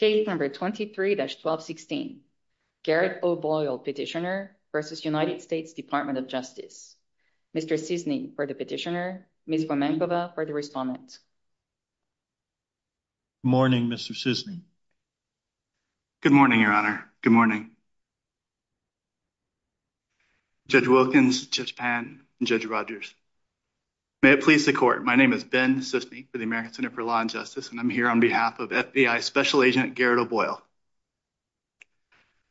23-1216 Garrett O'Boyle v. DOJ Mr. Sisny for the petitioner, Ms. Wimankova for the respondent. Good morning, Mr. Sisny. Good morning, Your Honor. Good morning. Judge Wilkins, Judge Pan, and Judge Rogers. May it please the Court, my name is Ben Sisny for the American Center for Law and Justice, and I'm here on behalf of FBI Special Agent Garrett O'Boyle.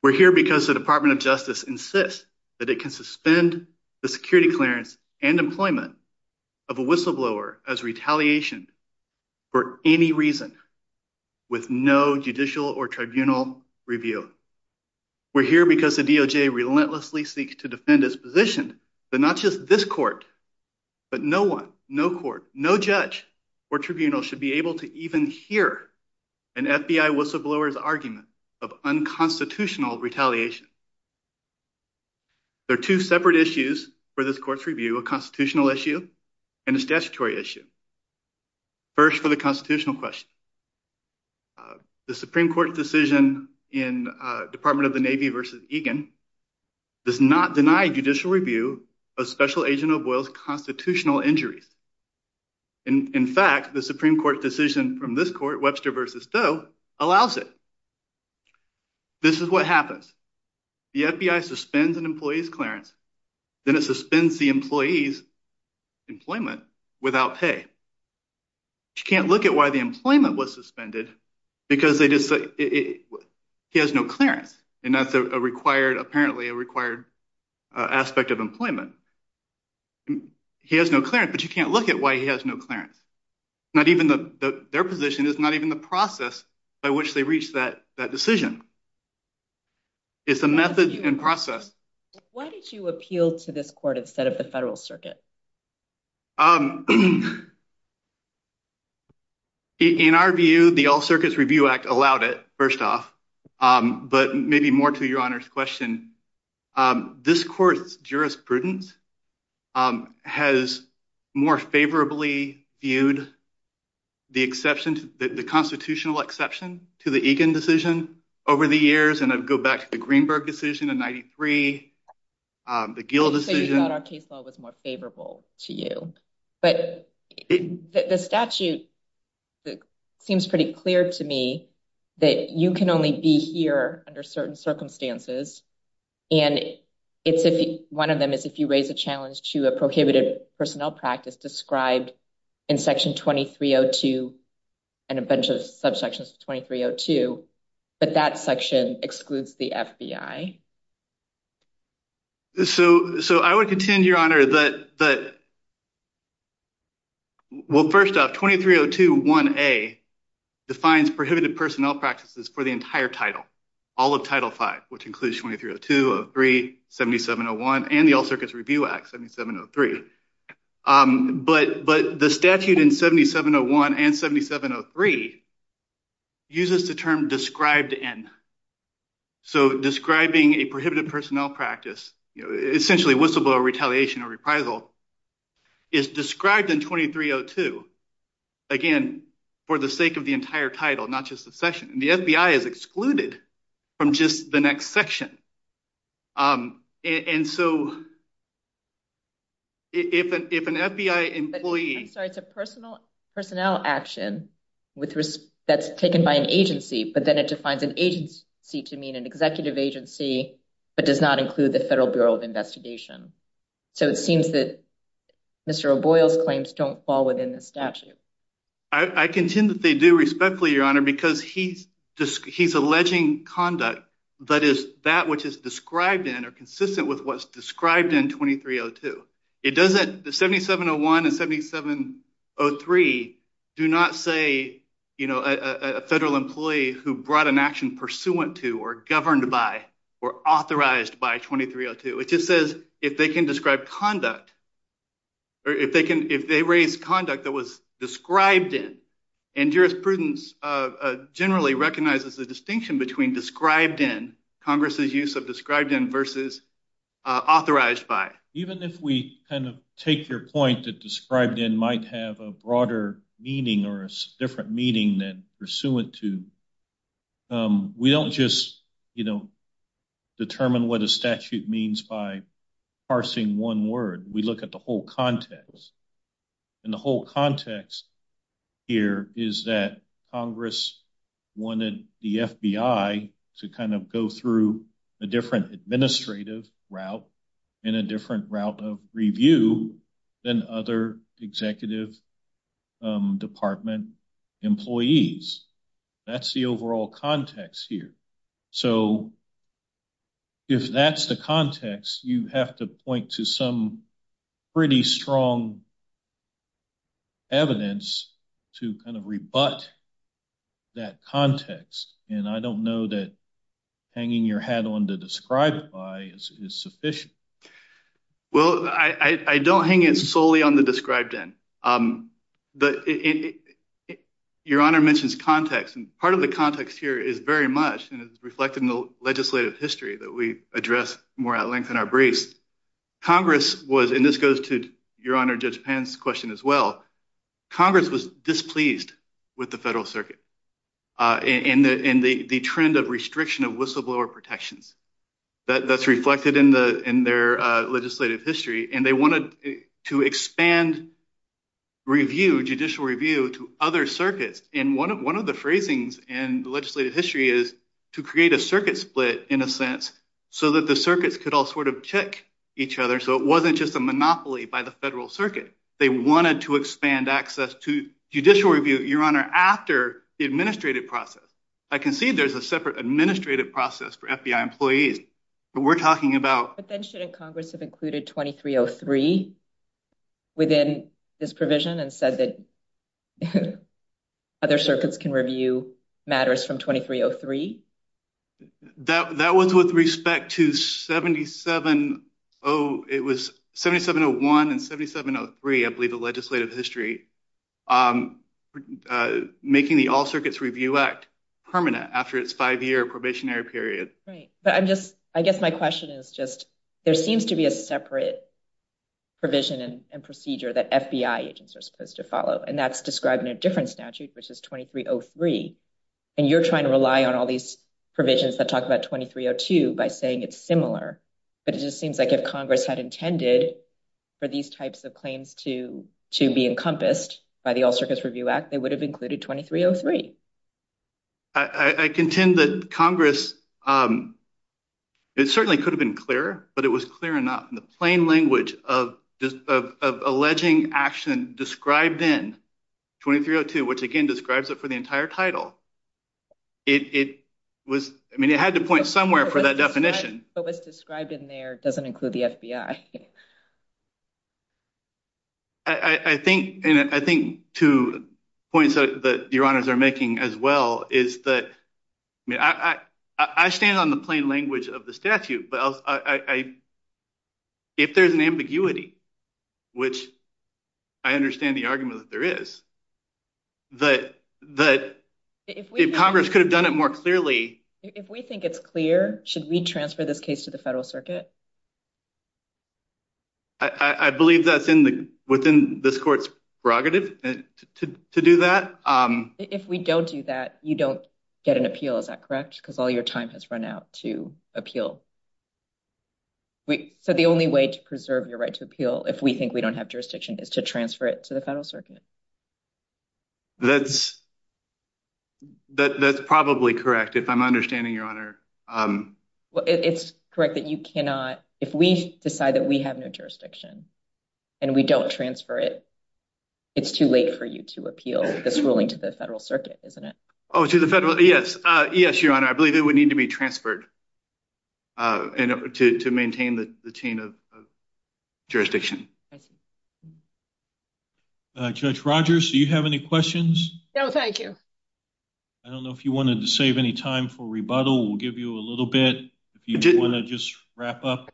We're here because the Department of Justice insists that it can suspend the security clearance and employment of a whistleblower as retaliation for any reason with no judicial or tribunal review. We're here because the DOJ relentlessly seeks to defend its position that not just this court, but no one, no court, no judge or tribunal should be able to even hear an FBI whistleblower's argument of unconstitutional retaliation. There are two separate issues for this court's review, a constitutional issue and a statutory issue. First, for the constitutional question, the Supreme Court decision in Department of the Navy v. Egan does not deny judicial review of Special Agent O'Boyle's constitutional injuries. In fact, the Supreme Court decision from this court, Webster v. Doe, allows it. This is what happens. The FBI suspends an employee's clearance, then it suspends the employee's employment without pay. You can't look at why the employment was suspended because he has no clearance, and that's apparently a required aspect of employment. He has no clearance, but you can't look at why he has no clearance. Their position is not even the process by which they reach that decision. It's a method and process. Why did you appeal to this court instead of the federal circuit? In our view, the All Circuits Review Act allowed it, first off, but maybe more to Your Honor's question. This court's jurisprudence has more favorably viewed the exception to the constitutional exception to the Egan decision over the years. And I go back to the Greenberg decision in 93, the Gill decision. We thought our case law was more favorable to you, but the statute seems pretty clear to me that you can only be here under certain circumstances. And one of them is if you raise a challenge to a prohibited personnel practice described in Section 2302 and a bunch of subsections of 2302, but that section excludes the FBI. So I would contend, Your Honor, that. Well, first off, 23021A defines prohibited personnel practices for the entire title, all of Title V, which includes 230203, 7701, and the All Circuits Review Act 7703. But the statute in 7701 and 7703 uses the term described in. So describing a prohibited personnel practice, essentially whistleblower retaliation or reprisal, is described in 2302. Again, for the sake of the entire title, not just the section. The FBI is excluded from just the next section. And so. If an FBI employee. I'm sorry, it's a personnel action that's taken by an agency, but then it defines an agency to mean an executive agency, but does not include the Federal Bureau of Investigation. So it seems that Mr. O'Boyle's claims don't fall within the statute. I contend that they do, respectfully, Your Honor, because he's alleging conduct that is that which is described in or consistent with what's described in 2302. It doesn't. The 7701 and 7703 do not say, you know, a federal employee who brought an action pursuant to or governed by or authorized by 2302. It just says if they can describe conduct. Or if they can, if they raise conduct that was described in and jurisprudence generally recognizes the distinction between described in Congress's use of described in versus authorized by. Even if we kind of take your point that described in might have a broader meaning or a different meaning than pursuant to. We don't just, you know, determine what a statute means by parsing one word. We look at the whole context. And the whole context here is that Congress wanted the FBI to kind of go through a different administrative route and a different route of review than other executive department employees. That's the overall context here. So, if that's the context, you have to point to some pretty strong evidence to kind of rebut that context. And I don't know that hanging your hat on the described by is sufficient. Well, I don't hang it solely on the described in. But your honor mentions context and part of the context here is very much and it's reflected in the legislative history that we address more at length in our briefs. Congress was in this goes to your honor. Judge Penn's question as well. Congress was displeased with the federal circuit in the trend of restriction of whistleblower protections. That's reflected in the in their legislative history and they wanted to expand. Review judicial review to other circuits in one of one of the phrasings and legislative history is to create a circuit split in a sense. So that the circuits could all sort of check each other. So, it wasn't just a monopoly by the federal circuit. They wanted to expand access to judicial review your honor after the administrative process. I can see there's a separate administrative process for FBI employees, but we're talking about. But then shouldn't Congress have included 2303 within this provision and said that other circuits can review matters from 2303. That was with respect to 770. It was 7701 and 7703. I believe the legislative history making the all circuits review act permanent after it's five-year probationary period. But I'm just I guess my question is just there seems to be a separate provision and procedure that FBI agents are supposed to follow. And that's described in a different statute, which is 2303 and you're trying to rely on all these provisions that talk about 2302 by saying it's similar. But it just seems like if Congress had intended for these types of claims to to be encompassed by the all circuits review act, they would have included 2303. I contend that Congress. It certainly could have been clearer, but it was clear enough in the plain language of alleging action described in 2302, which again describes it for the entire title. It was I mean, it had to point somewhere for that definition, but was described in there doesn't include the FBI. I think and I think two points that your honors are making as well is that I stand on the plain language of the statute, but I. If there's an ambiguity, which I understand the argument that there is. But that if Congress could have done it more clearly, if we think it's clear, should we transfer this case to the federal circuit? I believe that's in the within this court's prerogative to do that. If we don't do that, you don't get an appeal. Is that correct? Because all your time has run out to appeal. So, the only way to preserve your right to appeal if we think we don't have jurisdiction is to transfer it to the federal circuit. That's that's probably correct. If I'm understanding your honor. Well, it's correct that you cannot if we decide that we have no jurisdiction and we don't transfer it. It's too late for you to appeal this ruling to the federal circuit, isn't it? Oh, to the federal. Yes. Yes, your honor. I believe it would need to be transferred to maintain the chain of jurisdiction. Judge Rogers, do you have any questions? No, thank you. I don't know if you wanted to save any time for rebuttal. We'll give you a little bit if you want to just wrap up.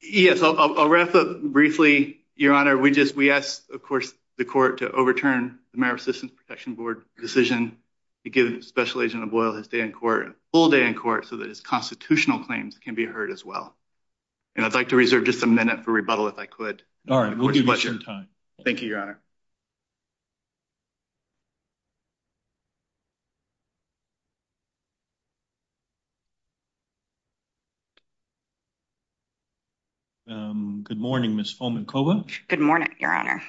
Yes, I'll wrap up briefly, your honor. We just we asked, of course, the court to overturn the marriage system protection board decision to give special agent of oil his day in court full day in court so that his constitutional claims can be heard as well. And I'd like to reserve just a minute for rebuttal if I could. All right, we'll give you some time. Thank you, your honor. Good morning, Miss Coleman. Good morning, your honor.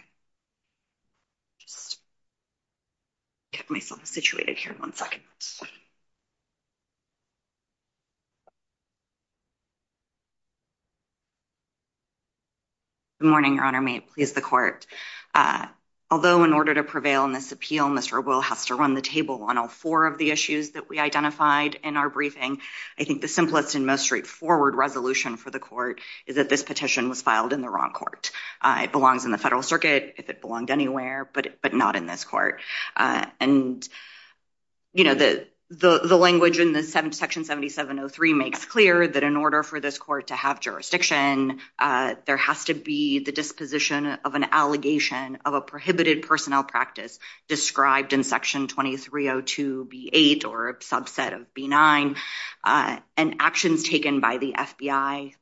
Get myself situated here in one second. Good morning, your honor. May it please the court. Although in order to prevail in this appeal, Mr. will has to run the table on all four of the issues that we identified in our briefing. I think the simplest and most straightforward resolution for the court is that this petition was filed in the wrong court. It belongs in the federal circuit if it belonged anywhere, but but not in this court. And, you know, the, the, the language in the 7th section 7703 makes clear that in order for this court to have jurisdiction, there has to be the disposition of an allegation of a prohibited personnel practice described in section 2302 B8 or a subset of B9 and actions taken by the FBI.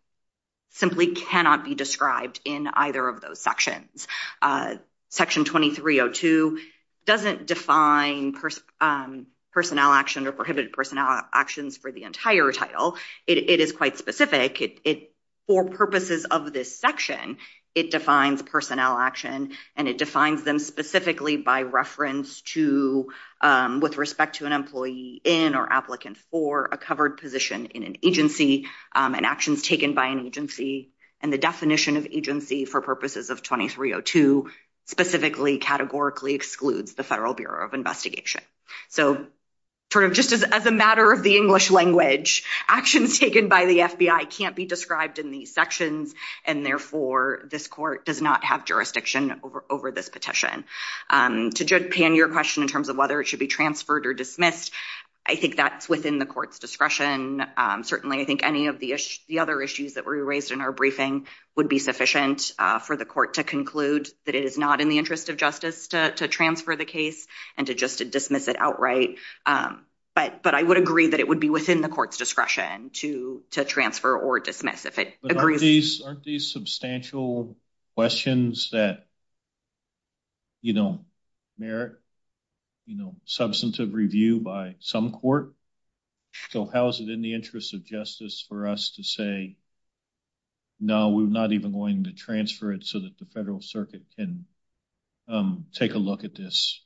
Simply cannot be described in either of those sections. Section 2302 doesn't define personnel action or prohibited personnel actions for the entire title. It is quite specific for purposes of this section. It defines personnel action, and it defines them specifically by reference to with respect to an employee in or applicant for a covered position in an agency and actions taken by an agency. And the definition of agency for purposes of 2302 specifically categorically excludes the Federal Bureau of Investigation. So, sort of, just as a matter of the English language actions taken by the FBI can't be described in these sections. And therefore, this court does not have jurisdiction over over this petition to Japan. Your question in terms of whether it should be transferred or dismissed. I think that's within the court's discretion. Certainly, I think any of the other issues that were raised in our briefing would be sufficient for the court to conclude that it is not in the interest of justice to transfer the case and to just to dismiss it outright. But I would agree that it would be within the court's discretion to transfer or dismiss if it agrees. Aren't these, aren't these substantial questions that, you know, merit, you know, substantive review by some court? So, how is it in the interest of justice for us to say, no, we're not even going to transfer it so that the Federal Circuit can take a look at this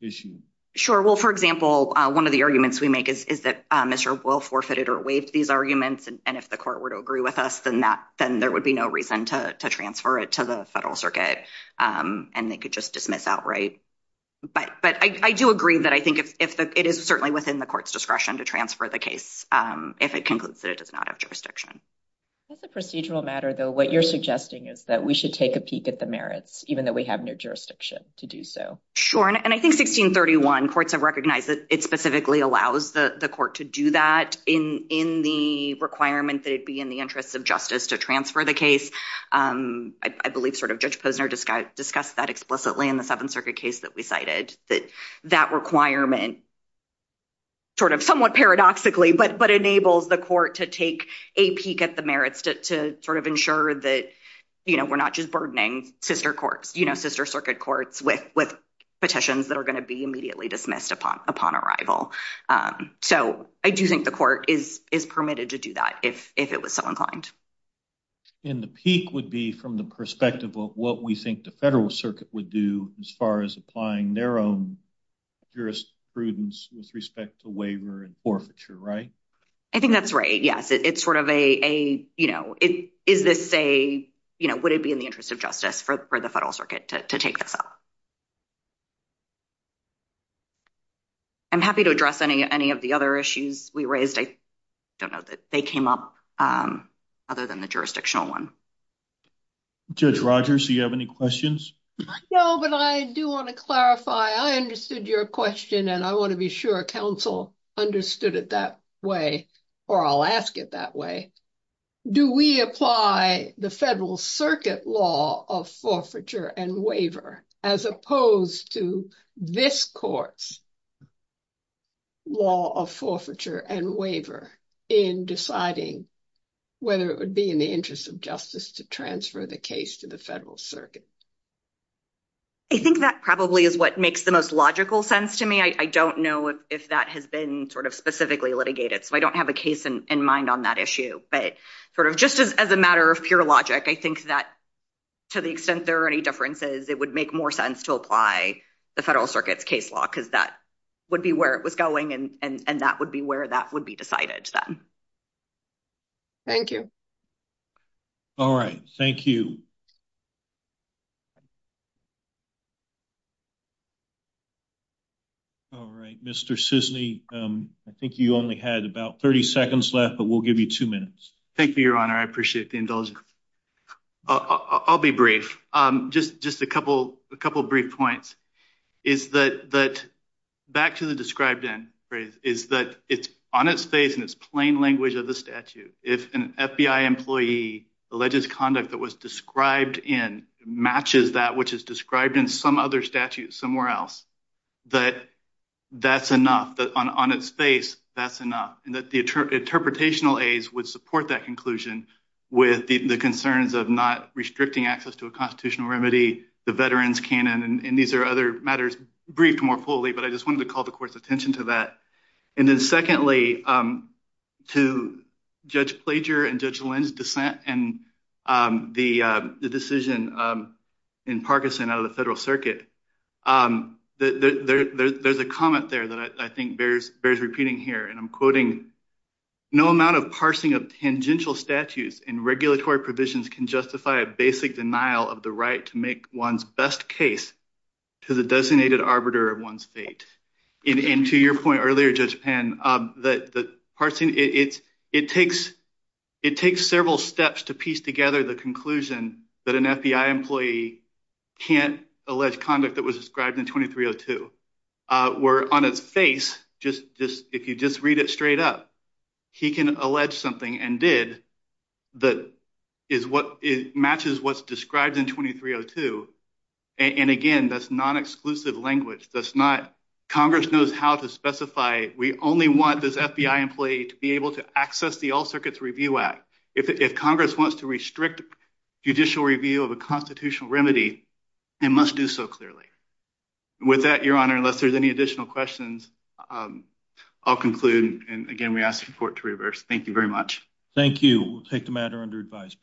issue? Sure. Well, for example, one of the arguments we make is that Mr. Wolf forfeited or waived these arguments. And if the court were to agree with us, then that then there would be no reason to transfer it to the Federal Circuit and they could just dismiss outright. But I do agree that I think if it is certainly within the court's discretion to transfer the case, if it concludes that it does not have jurisdiction. As a procedural matter, though, what you're suggesting is that we should take a peek at the merits, even though we have no jurisdiction to do so. Sure. And I think 1631 courts have recognized that it specifically allows the court to do that in the requirement that it be in the interest of justice to transfer the case. I believe sort of Judge Posner discussed that explicitly in the Seventh Circuit case that we cited that that requirement. Sort of somewhat paradoxically, but but enables the court to take a peek at the merits to to sort of ensure that, you know, we're not just burdening sister courts, you know, sister circuit courts with with petitions that are going to be immediately dismissed upon upon arrival. So I do think the court is is permitted to do that if if it was so inclined. In the peak would be from the perspective of what we think the Federal Circuit would do as far as applying their own jurisprudence with respect to waiver and forfeiture. Right? I think that's right. Yes. It's sort of a, you know, it is this say, you know, would it be in the interest of justice for the Federal Circuit to take this up? I'm happy to address any any of the other issues we raised. I don't know that they came up other than the jurisdictional one. Judge Rogers, do you have any questions? No, but I do want to clarify. I understood your question and I want to be sure council understood it that way or I'll ask it that way. Do we apply the Federal Circuit law of forfeiture and waiver as opposed to this courts? Law of forfeiture and waiver in deciding whether it would be in the interest of justice to transfer the case to the Federal Circuit. I think that probably is what makes the most logical sense to me. I don't know if that has been sort of specifically litigated, so I don't have a case in mind on that issue. But sort of just as a matter of pure logic, I think that to the extent there are any differences, it would make more sense to apply the Federal Circuit's case law because that would be where it was going. And that would be where that would be decided. Thank you. All right. Thank you. All right, Mr. Cisney, I think you only had about 30 seconds left, but we'll give you two minutes. Thank you, Your Honor. I appreciate the indulgence. I'll be brief. Just just a couple a couple of brief points is that that back to the described in phrase is that it's on its face and it's plain language of the statute. If an FBI employee alleges conduct that was described in matches that which is described in some other statute somewhere else, that that's enough on its face. That's enough. And that the interpretational aides would support that conclusion with the concerns of not restricting access to a constitutional remedy. The veterans can and these are other matters briefed more fully. But I just wanted to call the court's attention to that. And then secondly, to Judge Plager and Judge Lynn's dissent and the decision in Parkinson out of the Federal Circuit, there's a comment there that I think bears bears repeating here. And I'm quoting no amount of parsing of tangential statutes and regulatory provisions can justify a basic denial of the right to make one's best case to the designated arbiter of one's fate. And to your point earlier, Judge Penn, that the person it's it takes it takes several steps to piece together the conclusion that an FBI employee can't allege conduct that was described in twenty three or two were on its face. Just just if you just read it straight up, he can allege something and did that is what it matches what's described in twenty three or two. And again, that's not exclusive language. That's not Congress knows how to specify. We only want this FBI employee to be able to access the All Circuits Review Act if Congress wants to restrict judicial review of a constitutional remedy and must do so clearly. With that, your honor, unless there's any additional questions, I'll conclude. And again, we ask for it to reverse. Thank you very much. Thank you. Take the matter under advice.